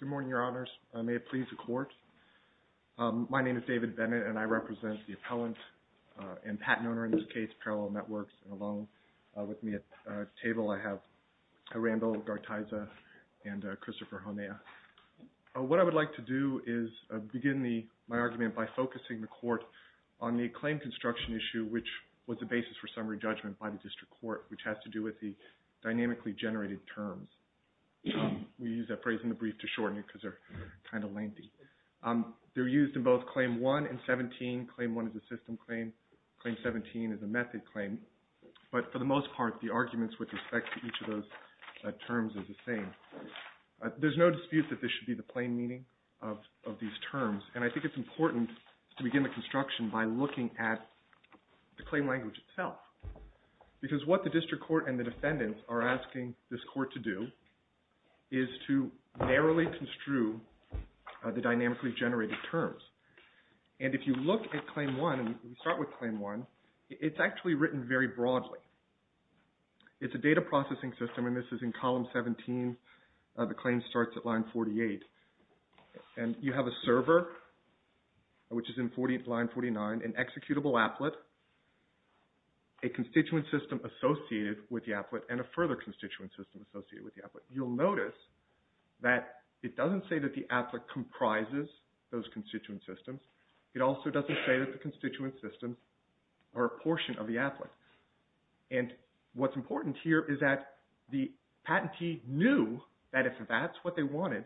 Good morning, Your Honors. May it please the Court. My name is David Bennett, and I represent the appellant and patent owner in this case, PARALLEL NETWORKS, along with me at the table I have Randall Gartiza and Christopher Honea. What I would like to do is begin my argument by focusing the Court on the claim construction issue, which was the basis for summary judgment by the District Court, which has to do with the dynamically generated terms. We use that phrase in the brief to shorten it because they're kind of lengthy. They're used in both Claim 1 and 17. Claim 1 is a system claim. Claim 17 is a method claim. But for the most part, the arguments with respect to each of those terms is the same. There's no dispute that this should be the plain meaning of these terms, and I think it's important to begin the construction by looking at the claim language itself. Because what the District Court and the defendants are asking this Court to do is to narrowly construe the dynamically generated terms. And if you look at Claim 1, and we start with Claim 1, it's actually written very broadly. It's a data processing system, and this is in Column 17. The claim starts at Line 48. And you have a server, which is in Line 49, an executable applet, a constituent system associated with the applet, and a further constituent system associated with the applet. You'll notice that it doesn't say that the applet comprises those constituent systems. It also doesn't say that the constituent systems are a portion of the applet. And what's important here is that the patentee knew that if that's what they wanted,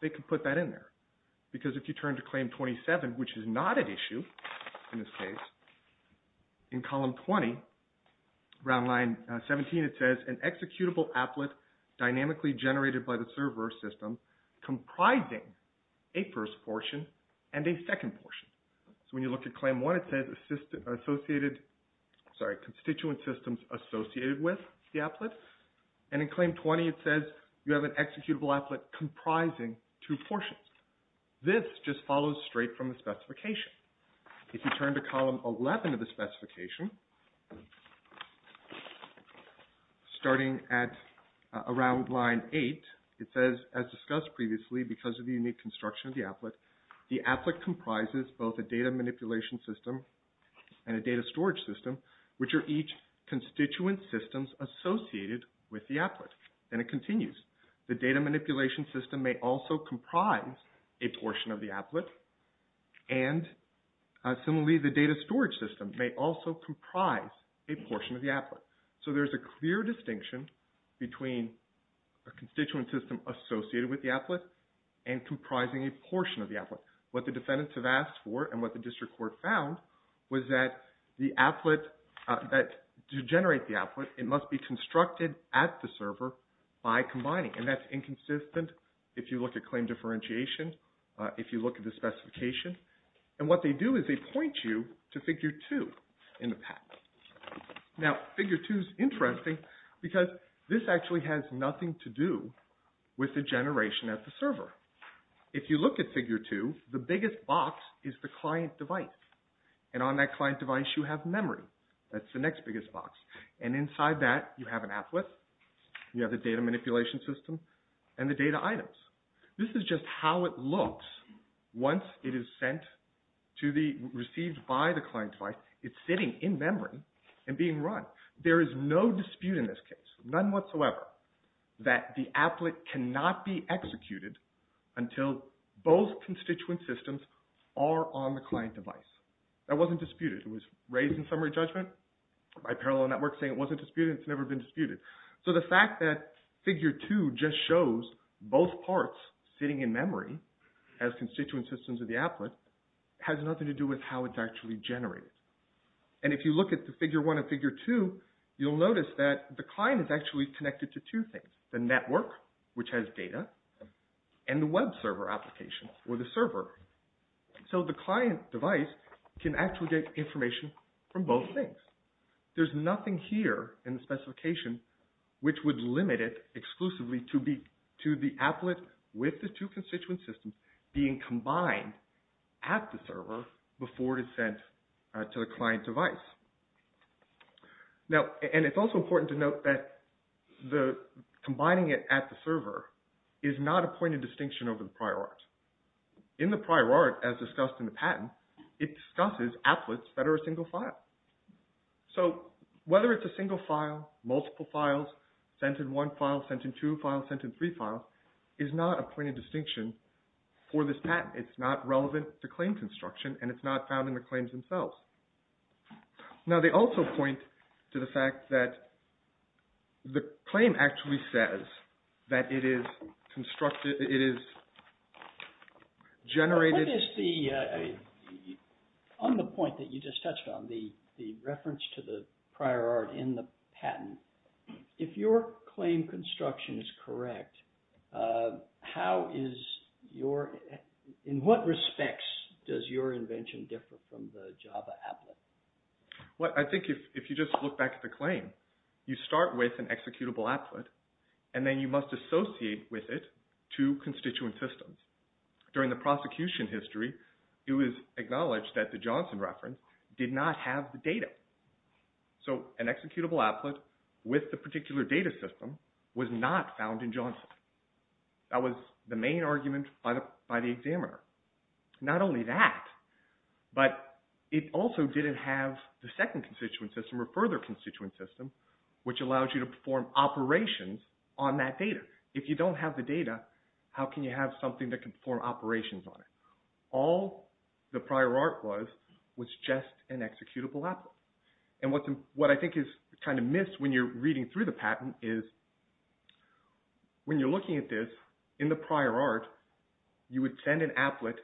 they could put that in there. Because if you turn to Claim 27, which is not at issue in this case, in Column 20, Round Line 17, it says, an executable applet dynamically generated by the server system comprising a first portion and a second portion. So when you look at Claim 1, it says, sorry, constituent systems associated with the applet. And in Claim 20, it says, you have an executable applet comprising two portions. This just follows straight from the specification. If you turn to Column 11 of the specification, starting at Round Line 8, it says, as discussed previously, because of the unique construction of the applet, the applet comprises both a data manipulation system and a data storage system, which are each constituent systems associated with the applet. And it continues. The data manipulation system may also comprise a portion of the applet. And similarly, the data storage system may also comprise a portion of the applet. So there's a clear distinction between a constituent system associated with the applet and comprising a portion of the applet. What the defendants have asked for and what the District Court found was that the applet, that to generate the applet, it must be constructed at the server by combining. And that's inconsistent if you look at claim differentiation, if you look at the specification. And what they do is they point you to Figure 2 in the pack. Now, Figure 2 is interesting because this actually has nothing to do with the generation at the server. If you look at Figure 2, the biggest box is the client device. And on that client device, you have memory. That's the next biggest box. And inside that, you have an applet, you have the data manipulation system, and the data items. This is just how it looks once it is sent to the, received by the client device. It's sitting in memory and being run. There is no dispute in this case, none whatsoever, that the applet cannot be executed until both constituent systems are on the client device. That wasn't disputed. It was raised in summary judgment by parallel networks saying it wasn't disputed. It's never been sitting in memory as constituent systems of the applet has nothing to do with how it's actually generated. And if you look at the Figure 1 and Figure 2, you'll notice that the client is actually connected to two things, the network, which has data, and the web server application or the server. So the client device can actually get information from both things. There's nothing here in the with the two constituent systems being combined at the server before it is sent to the client device. Now, and it's also important to note that combining it at the server is not a point of distinction over the prior art. In the prior art, as discussed in the patent, it discusses applets that are a single file. So whether it's a single file, multiple files, sent in one file, sent in two files, sent in three files, is not a point of distinction for this patent. It's not relevant to claim construction and it's not found in the claims themselves. Now, they also point to the fact that the claim actually says that it is constructed, it is generated. What is the, on the point that you just touched on, the reference to the prior art in the patent, if your claim construction is correct, how is your, in what respects does your invention differ from the Java applet? Well, I think if you just look back at the claim, you start with an executable applet and then you must associate with it two constituent systems. During the prosecution history, it was acknowledged that the Johnson reference did not have the data. So an executable applet with the particular data system was not found in Johnson. That was the main argument by the examiner. Not only that, but it also didn't have the second constituent system or further constituent system which allows you to perform operations on that data. If you don't have the data, how can you have something that can perform operations on it? All the prior art was, was just an executable applet. What I think is kind of missed when you're reading through the patent is when you're looking at this, in the prior art, you would send an applet,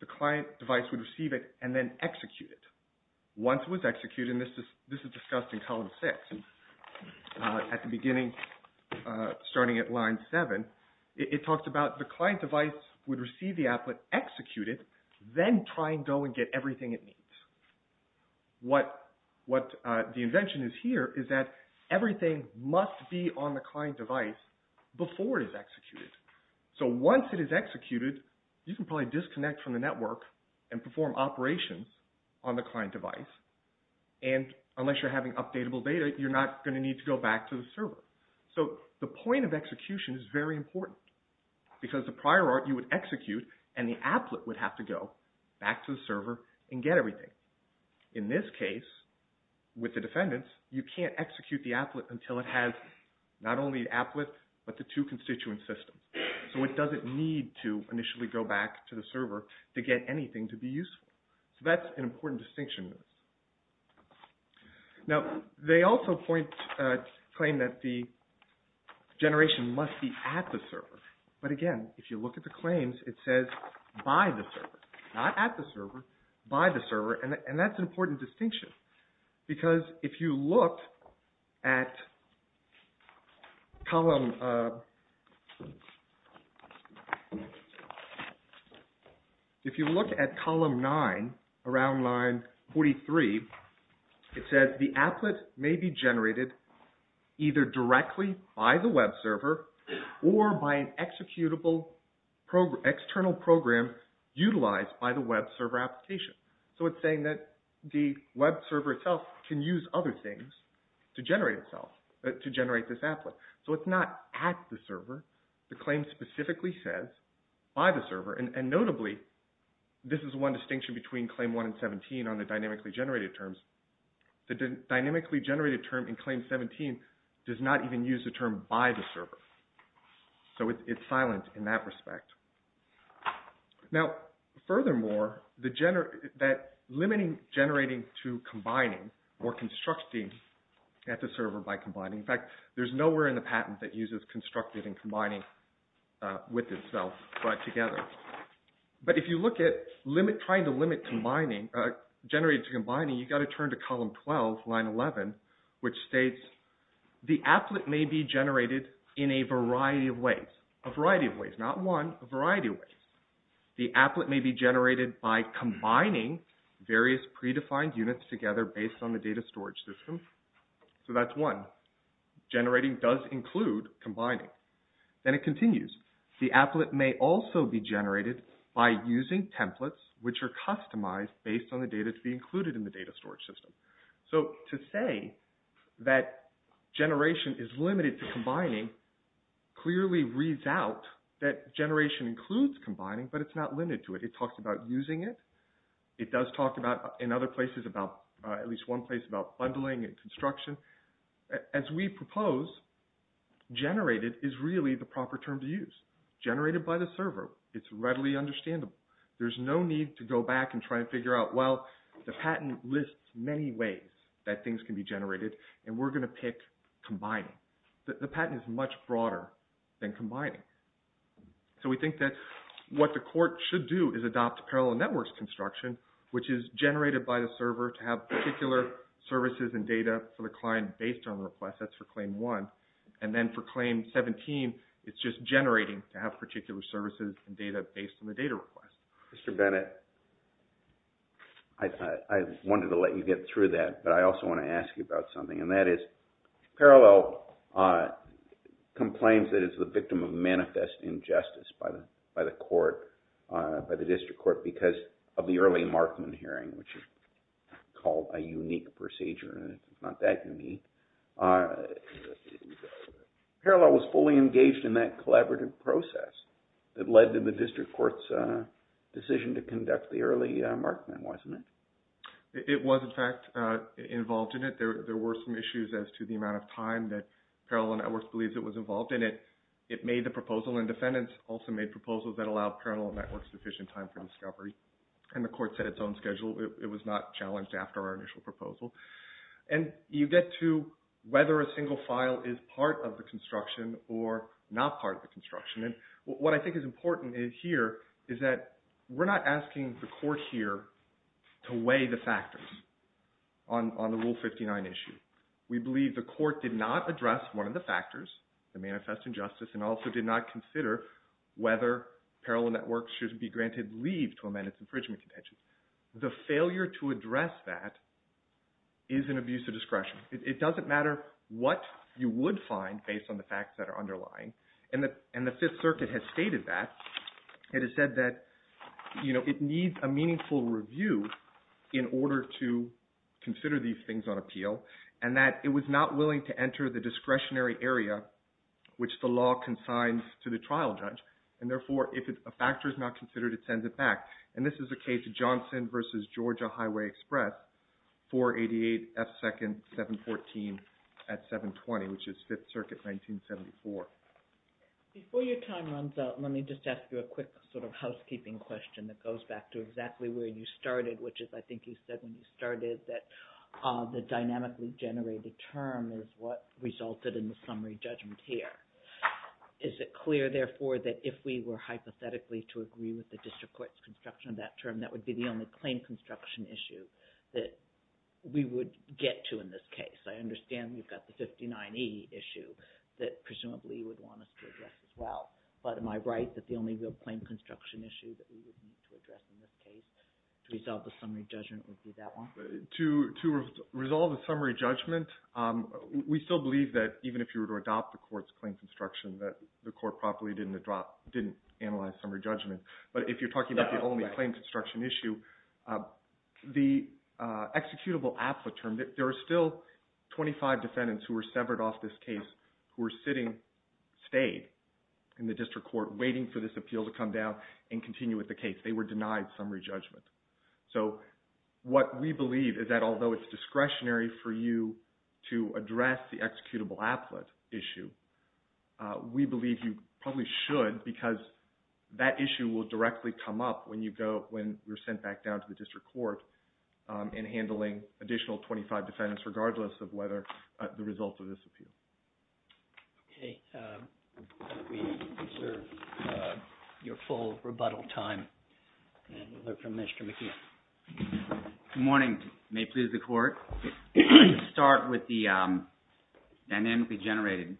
the client device would receive it, and then execute it. Once it was executed, and this is discussed in column six, at the beginning, starting at line seven, it talks about the client device would receive the applet, execute it, then try and go and get everything it needs. What, what the invention is here is that everything must be on the client device before it is executed. So once it is executed, you can probably disconnect from the network and perform operations on the client device. And unless you're having updatable data, you're not going to need to go back to the server. So the point of execution is very important. Because the prior art, you would execute, and the applet would have to go back to the server and get everything. In this case, with the defendants, you can't execute the applet until it has not only the applet, but the two constituent systems. So it doesn't need to initially go back to the server to get anything to be useful. So that's an important distinction. Now, they also point, claim that the generation must be at the server. But again, if you look at the claims, it says by the server, not at the server, by the server. And that's an important distinction. Because if you look at column, if you look at column nine, around line 43, it says the applet may be generated either directly by the web server, or by an executable external program utilized by the web server application. So it's saying that the web server itself can use other things to generate itself, to generate this applet. So it's not at the server. The claim specifically says by the server. And notably, this is one distinction between claim one and 17 on the dynamically generated terms. The dynamically generated term in claim 17 does not even use the term by the server. So it's silent in that respect. Now, furthermore, that limiting generating to combining, or constructing at the server by combining, in fact, there's nowhere in the patent that uses constructed and combining with itself, but together. But if you look at trying to limit generating to combining, you got to turn to column 12, line 11, which states the applet may be generated in a variety of ways. A variety of ways, not one, a variety of ways. The applet may be generated by combining various predefined units together based on the data storage system. So that's one. Generating does include combining. Then it continues. The applet may also be generated by using templates which are customized based on the data to be included in the data storage system. So to say that generation is limited to combining clearly reads out that generation includes combining, but it's not limited to it. It talks about using it. It does talk about, in other places, about, at least one place about bundling and construction. As we propose, generated is really the proper term to use. Generated by the server. It's readily understandable. There's no need to go back and try to figure out, well, the patent lists many ways that things can be generated, and we're going to pick combining. The patent is much broader than combining. So we think that what the court should do is adopt parallel networks construction, which is generated by the server to have particular services and data for the client based on requests. That's for claim one. And then for claim 17, it's just generating to have data requests. Mr. Bennett, I wanted to let you get through that, but I also want to ask you about something, and that is parallel complains that it's the victim of manifest injustice by the court, by the district court, because of the early Markman hearing, which is called a unique procedure. It's not that unique. Parallel was fully engaged in that collaborative process that led to the district court's decision to conduct the early Markman, wasn't it? It was, in fact, involved in it. There were some issues as to the amount of time that Parallel Networks believes it was involved in it. It made the proposal, and defendants also made proposals that allowed Parallel Networks sufficient time for discovery. And the court set its own schedule. It was not challenged after our initial proposal. And you get to whether a single file is part of the construction or not part of the construction. And what I think is important here is that we're not asking the court here to weigh the factors on the Rule 59 issue. We believe the court did not address one of the factors, the manifest injustice, and also did not consider whether Parallel Networks should be granted leave to address that is an abuse of discretion. It doesn't matter what you would find based on the facts that are underlying. And the Fifth Circuit has stated that. It has said that it needs a meaningful review in order to consider these things on appeal, and that it was not willing to enter the discretionary area which the law consigns to the trial judge. And therefore, if a factor is not considered, it sends it back. And this is the case of Johnson versus Georgia Highway Express, 488 F. 2nd 714 at 720, which is Fifth Circuit 1974. Before your time runs out, let me just ask you a quick sort of housekeeping question that goes back to exactly where you started, which is I think you said when you started that the dynamically generated term is what resulted in the summary judgment here. Is it clear, therefore, that if we were hypothetically to agree with the district court's construction of that term, that would be the only claim construction issue that we would get to in this case? I understand you've got the 59E issue that presumably would want us to address as well. But am I right that the only real claim construction issue that we would need to address in this case to resolve the summary judgment would be that one? To resolve the summary judgment, we still believe that even if you were to adopt the the court properly didn't analyze summary judgment. But if you're talking about the only claim construction issue, the executable applet term, there are still 25 defendants who were severed off this case who were sitting, stayed in the district court waiting for this appeal to come down and continue with the case. They were denied summary judgment. So what we believe is that although it's discretionary for you to address the executable applet issue, we believe you probably should because that issue will directly come up when you're sent back down to the district court in handling additional 25 defendants regardless of whether the results of this appeal. Okay. Let me reserve your full rebuttal time and we'll hear from Mr. McKeon. Good morning. May it please the court. Start with the dynamically generated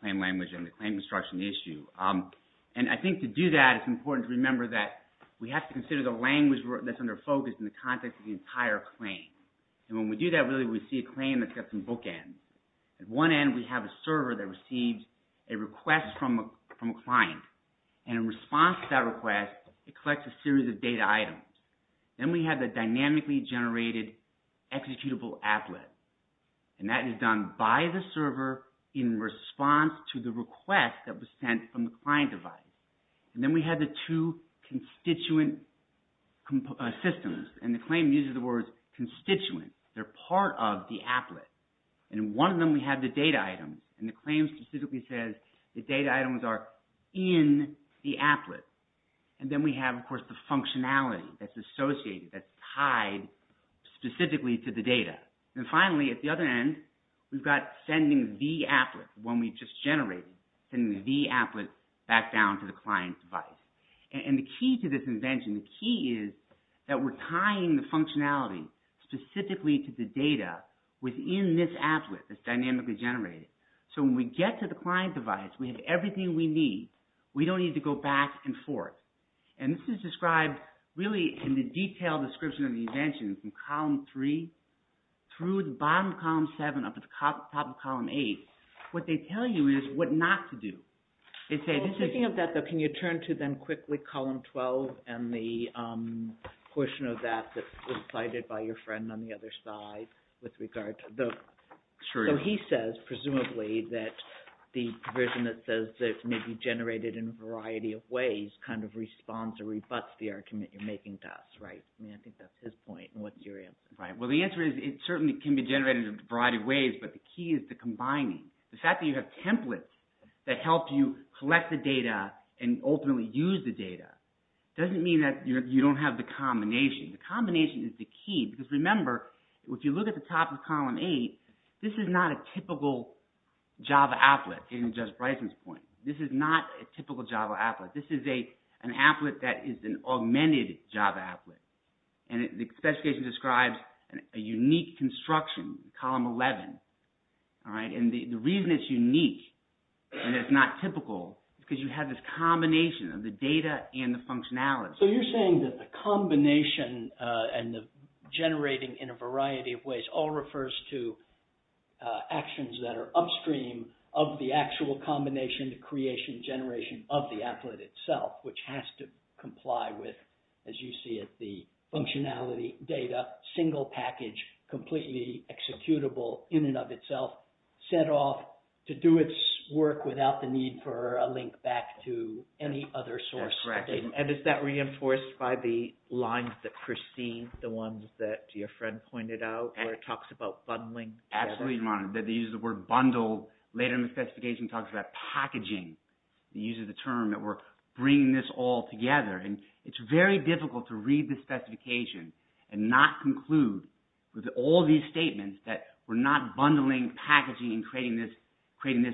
claim language and the claim construction issue. And I think to do that, it's important to remember that we have to consider the language that's under focus in the context of the entire claim. And when we do that, really, we see a claim that's got some bookends. At one end, we have a server that receives a request from a client. And in response to that request, it collects a series of data items. Then we have the dynamically generated executable applet. And that is done by the server in response to the request that was sent from the client device. And then we had the two constituent systems. And the claim uses the words constituent. They're part of the applet. And in one of them, we have the data items. And the claim specifically says the data items are in the applet. And then we have, of course, the functionality that's associated, that's tied specifically to the data. And finally, at the other end, we've got sending the applet, one we just generated, sending the applet back down to the client device. And the key to this invention, the key is that we're tying the functionality specifically to the data within this applet that's dynamically generated. So when we get to the client device, we have everything we need. We don't need to go back and forth. And this is described really in a detailed description of the invention from column three through the bottom of column seven up to the top of column eight. What they tell you is what not to do. Speaking of that, though, can you turn to then quickly column 12 and the portion of that that was cited by your friend on the other side with regard to the... So he says, presumably, that the provision that says that it may be generated in a variety of ways kind of responds or rebuts the argument you're making thus, right? I mean, I think that's his point. And what's your answer? Right. Well, the answer is it certainly can be generated in a variety of ways, but the key is the combining. The fact that you have templates that help you collect the data and ultimately use the data doesn't mean that you don't have the combination. The combination is the key because remember, if you look at the top of column eight, this is not a typical Java applet, getting to Judge Bryson's point. This is not a typical Java applet. This is an applet that is an augmented Java applet, and the specification describes a unique construction, column 11, all right? And the reason it's unique and it's not typical is because you have this combination of the data and the functionality. So you're saying that the combination and the generating in a variety of creation and generation of the applet itself, which has to comply with, as you see it, the functionality, data, single package, completely executable in and of itself, set off to do its work without the need for a link back to any other source. That's correct. And is that reinforced by the lines that Christine, the ones that your friend pointed out, where it talks about bundling? Absolutely, Ron. They use the word bundle. Later in the specification, it talks about packaging. It uses the term that we're bringing this all together. And it's very difficult to read the specification and not conclude with all these statements that we're not bundling packaging and creating this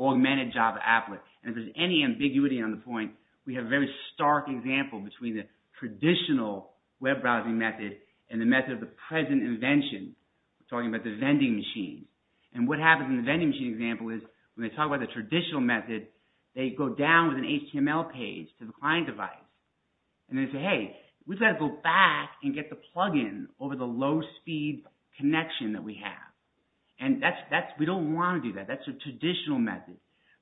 augmented Java applet. And if there's any ambiguity on the point, we have a very stark example between the traditional web browsing method and the method of the present invention. We're talking about the vending machine. And what happens in the vending machine example is when they talk about the traditional method, they go down with an HTML page to the client device. And they say, hey, we've got to go back and get the plugin over the low speed connection that we have. And we don't want to do that. That's a traditional method.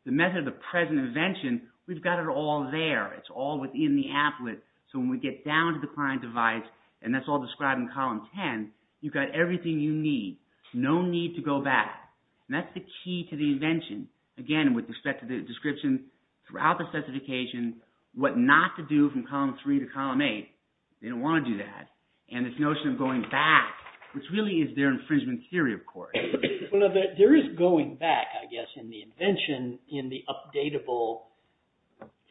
The method of the present invention, we've got it all there. It's all within the applet. So when we get down to the client device, and that's all described in column 10, you've got everything you need. No need to go back. And that's the key to the invention. Again, with respect to the description throughout the specification, what not to do from column three to column eight. They don't want to do that. And this notion of going back, which really is their infringement theory, of course. There is going back, I guess, in the invention in the updatable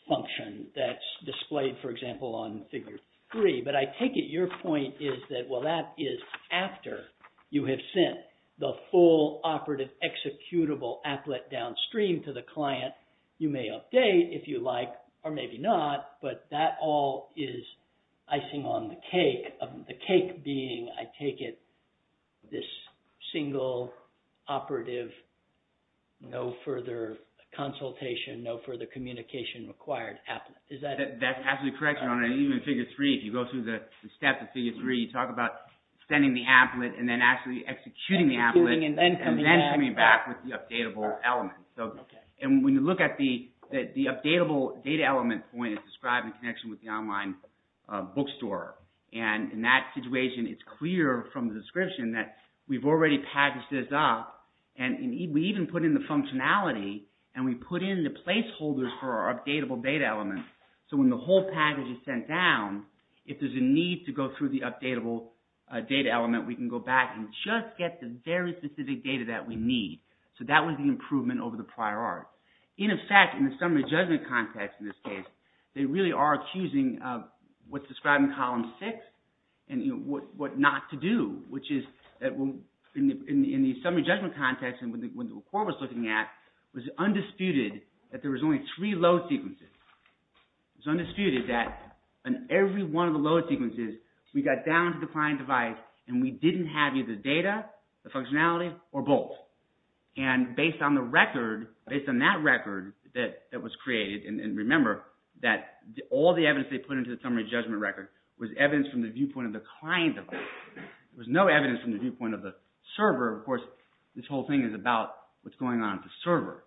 function that's displayed, for example, on figure three. But I take it your point is that, well, that is after you have sent the full operative executable applet downstream to the client. You may update if you like, or maybe not. But that all is icing on the cake. The cake being, I take it, this single operative, no further consultation, no further communication required applet. Is that... That's absolutely correct. Even figure three, if you go through the step of figure three, you talk about sending the applet, and then actually executing the applet, and then coming back with the updatable element. And when you look at the updatable data element point, it's described in connection with the online bookstore. And in that situation, it's clear from the setup, and we even put in the functionality, and we put in the placeholders for our updatable data element. So when the whole package is sent down, if there's a need to go through the updatable data element, we can go back and just get the very specific data that we need. So that was the improvement over the prior art. In effect, in the summary judgment context in this case, they really are accusing of what's described in column six, and what not to do, which is in the summary judgment context, and when the report was looking at, it was undisputed that there was only three load sequences. It's undisputed that in every one of the load sequences, we got down to the client device, and we didn't have either data, the functionality, or both. And based on the record, based on that record that was created, and remember that all the evidence they put into the summary judgment record was evidence from the viewpoint of the client. There was no evidence from the viewpoint of the server. Of course, this whole thing is about what's going on at the server.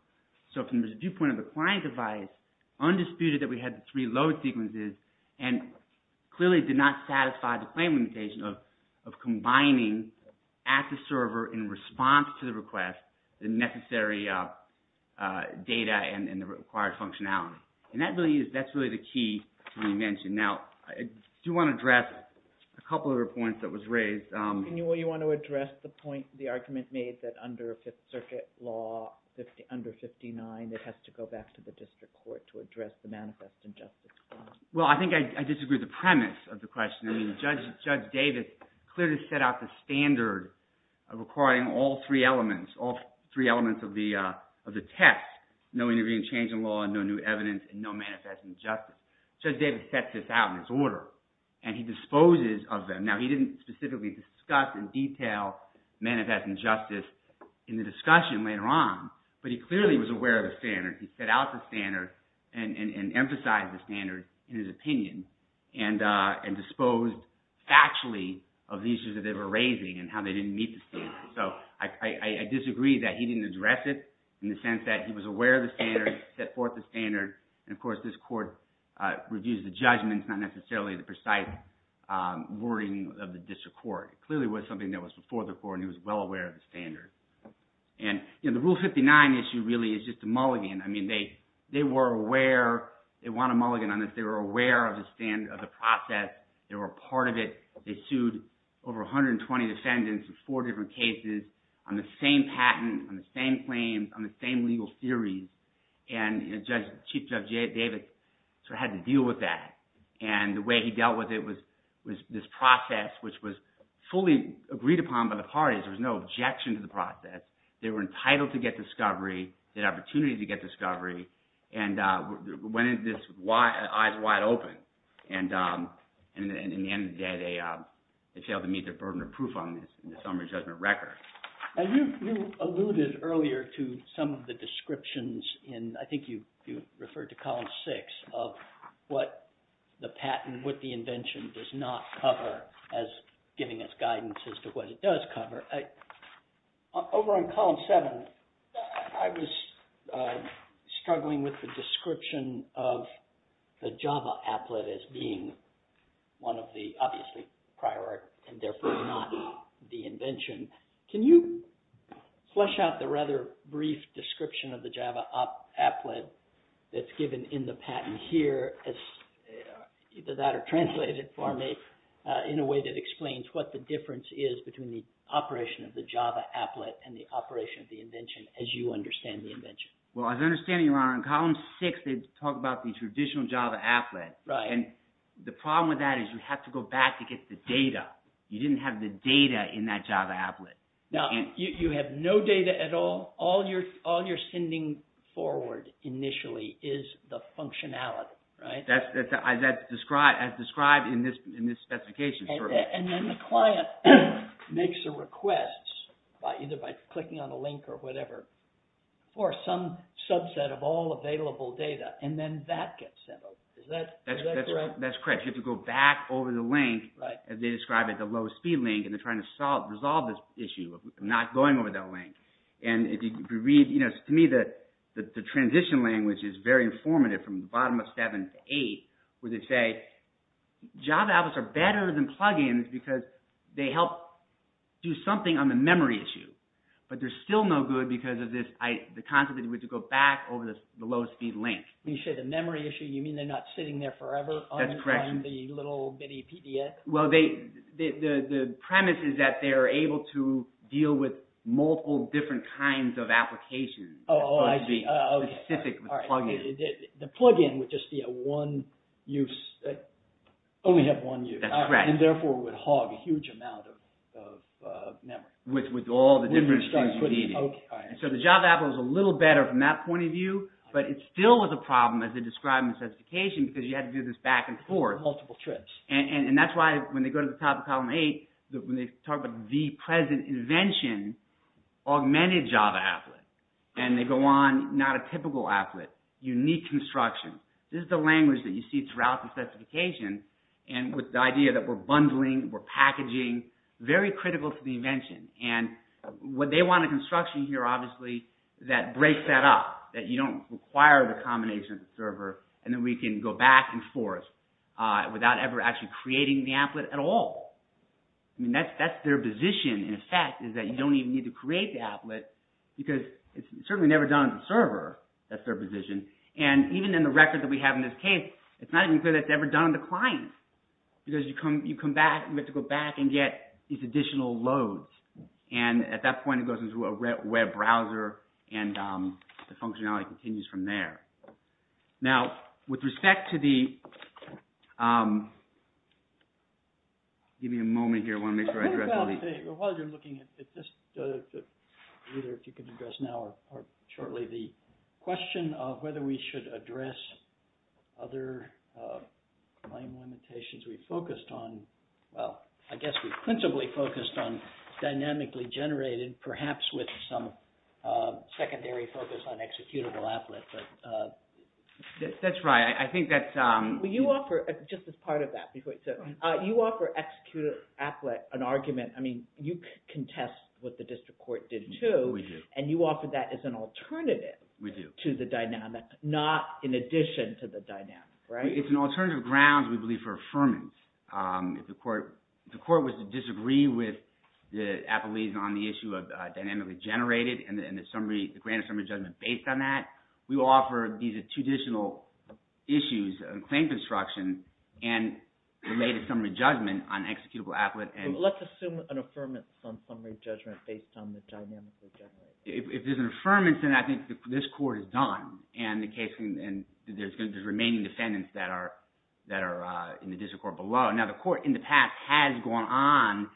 So from the viewpoint of the client device, undisputed that we had the three load sequences, and clearly did not satisfy the claim limitation of combining at the server in response to the request the necessary data and the required functionality. And that's really the key to what you mentioned. Now, I do want to address a couple of points that was raised. And you want to address the point, the argument made that under Fifth Circuit law, under 59, it has to go back to the district court to address the manifest injustice. Well, I think I disagree with the premise of the question. I mean, Judge Davis clearly set out the standard requiring all three elements, all three elements of the test, no intervening change in law, no new evidence, and no manifest injustice. Judge Davis sets this out in his order, and he disposes of them. Now, he didn't specifically discuss in detail manifest injustice in the discussion later on, but he clearly was aware of the standard. He set out the standard and emphasized the standard in his opinion and disposed factually of the issues that they were raising and how they didn't meet the standard. So I disagree that he didn't address it in the case, set forth the standard. And of course, this court reviews the judgments, not necessarily the precise wording of the district court. It clearly was something that was before the court, and he was well aware of the standard. And the Rule 59 issue really is just a mulligan. I mean, they were aware, they want a mulligan on this. They were aware of the process. They were part of it. They sued over 120 defendants in four different cases on the same patent, on the same claims, on the same legal theories, and Chief Judge Davis sort of had to deal with that. And the way he dealt with it was this process, which was fully agreed upon by the parties. There was no objection to the process. They were entitled to get discovery, the opportunity to get discovery, and went into this eyes wide open. And in the end of the day, they failed to meet their burden of some of the descriptions in, I think you referred to Column 6, of what the patent, what the invention does not cover as giving us guidance as to what it does cover. Over on Column 7, I was struggling with the description of the Java applet as being one of the, obviously, prior art, and therefore not the invention. Can you flesh out the rather brief description of the Java applet that's given in the patent here, either that or translated for me, in a way that explains what the difference is between the operation of the Java applet and the operation of the invention as you understand the invention? Well, as I understand it, Your Honor, in Column 6, they talk about the traditional Java applet. Right. And the problem with that is you have to go back to get the data. You didn't have the data in that Java applet. Now, you have no data at all. All you're sending forward initially is the functionality, right? That's as described in this specification. And then the client makes a request by either by clicking on a link or whatever for some subset of all available data, and then that gets sent over. Is that correct? That's correct. You have to go back over the link, as they describe it, the lowest speed link, and they're trying to solve this issue of not going over that link. And if you read, you know, to me, the transition language is very informative from the bottom of 7 to 8, where they say, Java applets are better than plug-ins because they help do something on the memory issue, but there's still no good because of this. The concept is we have to go back over the lowest speed link. When you say the memory issue, you mean they're not sitting there forever? That's correct. On the little bitty PDF? Well, the premise is that they are able to deal with multiple different kinds of applications. Oh, I see. Specific plug-ins. The plug-in would just be a one-use, only have one use. That's correct. And therefore would hog a huge amount of memory. With all the different things you need. So the Java app was a little better from that point of view, but it still was a problem, as they describe in the specification, because you had to do this back and forth. Multiple trips. And that's why when they go to the top of column 8, when they talk about the present invention, augmented Java applet. And they go on, not a typical applet, unique construction. This is the language that you see throughout the specification, and with the idea that we're bundling, we're packaging, very critical to the invention. And what they want in construction here, obviously, is to break that up. That you don't require the combination of the server, and then we can go back and forth without ever actually creating the applet at all. That's their position, in effect, is that you don't even need to create the applet, because it's certainly never done on the server. That's their position. And even in the record that we have in this case, it's not even clear that it's ever done on the client. Because you come back, you have to go back and get these additional loads. And at that point, it goes into a web browser, and the functionality continues from there. Now, with respect to the... Give me a moment here, I want to make sure I address... While you're looking at this, either if you can address now or shortly, the question of whether we should address other claim limitations. We focused on... Well, I guess we principally focused on dynamically generated, perhaps with some secondary focus on executable applet. That's right. I think that's... Just as part of that, before you say... You offer executable applet an argument. I mean, you contest what the district court did too. We do. And you offer that as an alternative... We do. ...to the dynamic, not in addition to the dynamic, right? It's an alternative grounds, we believe, for affirmance. If the court was to disagree with the appellees on the issue of dynamically generated and the grand summary judgment based on that, we offer these are two additional issues on claim construction and related summary judgment on executable applet and... Let's assume an affirmance on summary judgment based on the dynamically generated. If there's an affirmance, then I think this court is done and there's remaining defendants that are in the district court below. Now, the court in the past has gone on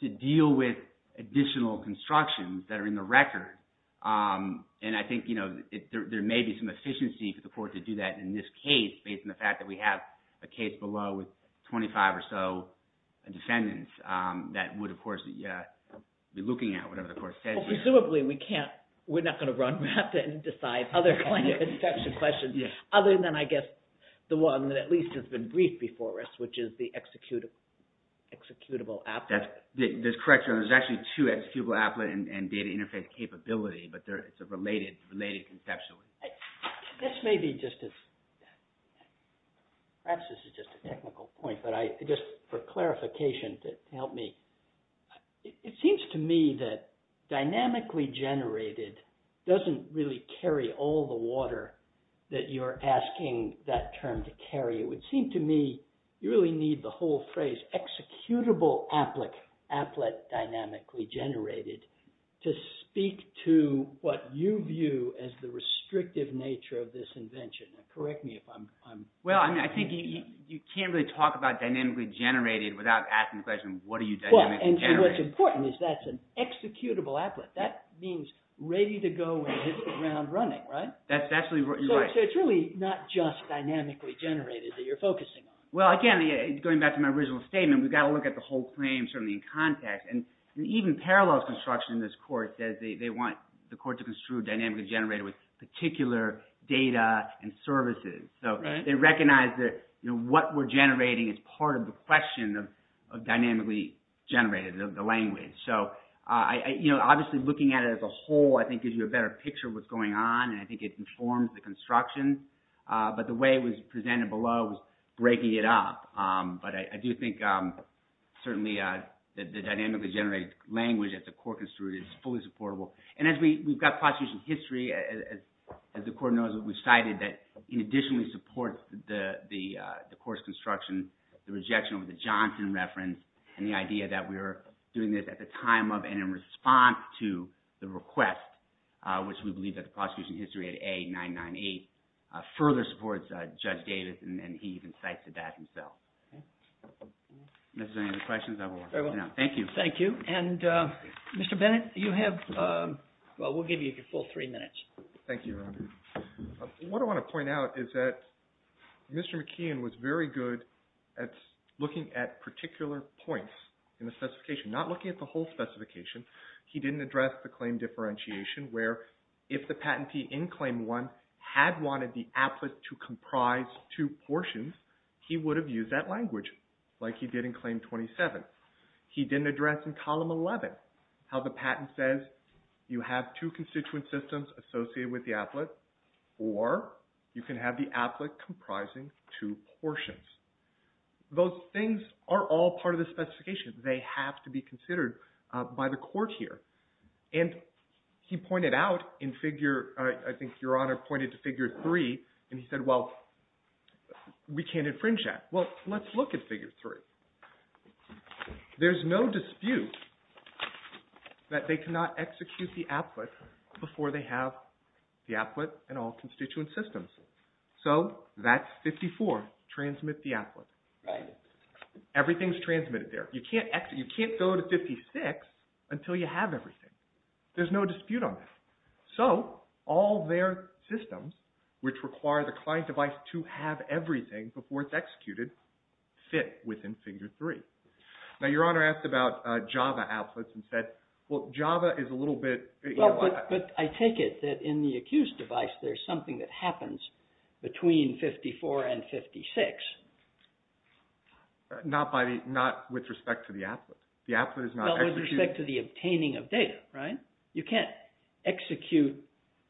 to deal with additional constructions that are in the record. And I think there may be some efficiency for the court to do that in this case based on the fact that we have a case below with 25 or so defendants that would, of course, be looking at whatever the court says here. Presumably, we can't... We're not going to run rapid and decide other kind of inspection questions other than, I guess, the one that at least has been briefed before us, which is the executable applet. That's correct, Your Honor. There's actually two executable applet and data interface capability, but it's related conceptually. This may be just as... Perhaps this is just a technical point, but just for clarification, help me. It seems to me that dynamically generated doesn't really carry all the water that you're asking that term to carry. It would seem to me you really need the whole phrase executable applet dynamically generated to speak to what you view as the restrictive nature of this invention. Now, correct me if I'm... I think you can't really talk about dynamically generated without asking the question, what are you dynamically generating? What's important is that's an executable applet. That means ready to go and hit it around running, right? That's actually right. It's really not just dynamically generated that you're focusing on. Well, again, going back to my original statement, we've got to look at the whole claim certainly in context. Even Parallels Construction in this court says they want the court to construe dynamically generated with particular data and services. They recognize that what we're generating is part of the question of dynamically generated, the language. Obviously, looking at it as a whole, I think gives you a better picture of what's going on and I think it informs the construction. But the way it was presented below was breaking it up. But I do think certainly that the dynamically generated language at the court construed is fully supportable. And as we've got prosecution history, as the court knows, we've cited that in addition we support the course construction, the rejection of the Johnson reference, and the idea that we're doing this at the time of and in response to the request, which we believe that the prosecution history at A998 further supports Judge Davis and he even cites that himself. Thank you. Thank you. And Mr. Bennett, you have, well, we'll give you your full three minutes. Thank you, Your Honor. What I want to point out is that Mr. McKeon was very good at looking at particular points in the specification, not looking at the whole specification. He didn't address the claim differentiation where if the patentee in Claim 1 had wanted the applet to comprise two portions, he would have used that language like he did in Column 11, how the patent says you have two constituent systems associated with the applet or you can have the applet comprising two portions. Those things are all part of the specification. They have to be considered by the court here. And he pointed out in figure, I think Your Honor pointed to figure three, and he said, well, we can't infringe that. Well, let's look at figure three. There's no dispute that they cannot execute the applet before they have the applet and all constituent systems. So that's 54, transmit the applet. Everything's transmitted there. You can't go to 56 until you have everything. There's no dispute on that. So all their systems, which require the client device to have everything before it's executed, fit within figure three. Now, Your Honor asked about Java applets and said, well, Java is a little bit... But I take it that in the accused device, there's something that happens between 54 and 56. Not with respect to the applet. The applet is not... Not with respect to the obtaining of data, right? You can't execute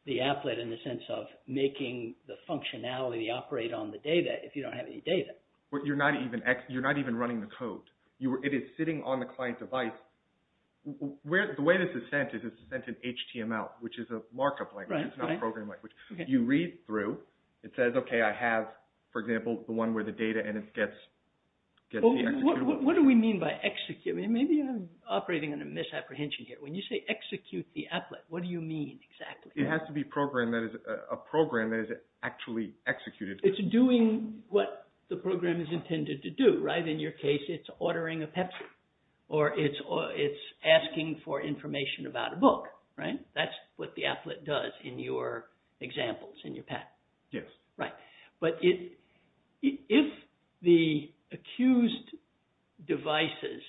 the applet in the sense of making the functionality operate on the data if you don't have any data. You're not even running the code. It is sitting on the client device. The way this is sent is it's sent in HTML, which is a markup language. It's not a program language. You read through. It says, okay, I have, for example, the one where the data and it gets... What do we mean by execute? Maybe I'm operating on a misapprehension here. When you say execute the applet, what do you mean exactly? It has to be a program that is actually executed. It's doing what the program is intended to do, right? In your case, it's ordering a Pepsi or it's asking for information about a book, right? That's what the applet does in your examples, in your path. Yes. Right. But if the accused devices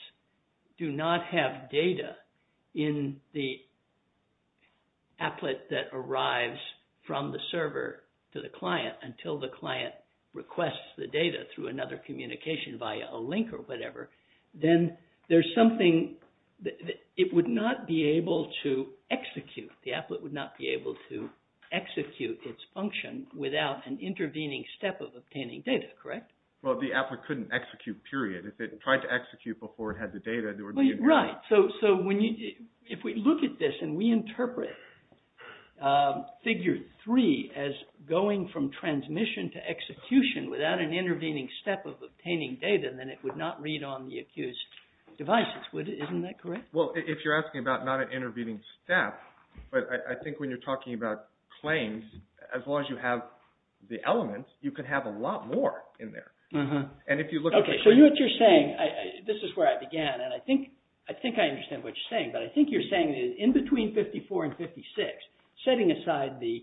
do not have data in the applet that arrives from the server to the client until the client requests the data through another communication via a link or whatever, then there's something... It would not be able to execute. The applet would not be able to execute its function without an intervening step of obtaining data, correct? Well, the applet couldn't execute, period. If it tried to execute before it had the data, there would be... Right. So if we look at this and we interpret figure three as going from transmission to execution without an intervening step of obtaining data, then it would not read on the accused devices, isn't that correct? Well, if you're asking about not an intervening step, but I think when you're talking about claims, as long as you have the elements, you could have a lot more in there. And if you look at the... So what you're saying, this is where I began, and I think I understand what you're saying, but I think you're saying that in between 54 and 56, setting aside the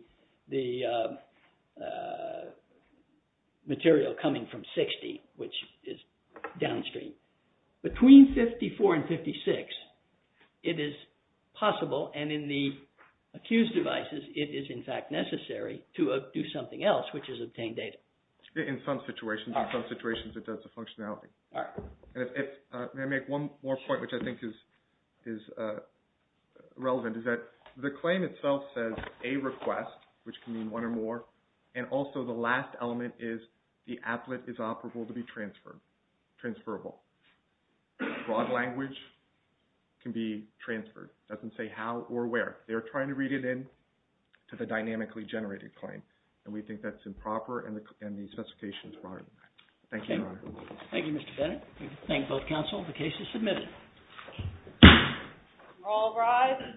material coming from 60, which is downstream, between 54 and 56, it is possible and in the accused devices, it is in fact necessary to do something else, which is obtain data. In some situations. In some situations, it does the functionality. And if I may make one more point, which I think is relevant, is that the claim itself says a request, which can mean one or more, and also the last element is the applet is operable to be transferred, transferable. Broad language can be transferred. It doesn't say how or where. They're trying to read it in to the dynamically generated claim, and we think that's improper and the specification is broader than that. Thank you, Your Honor. Thank you, Mr. Bennett. We thank both counsel. The case is submitted. All rise.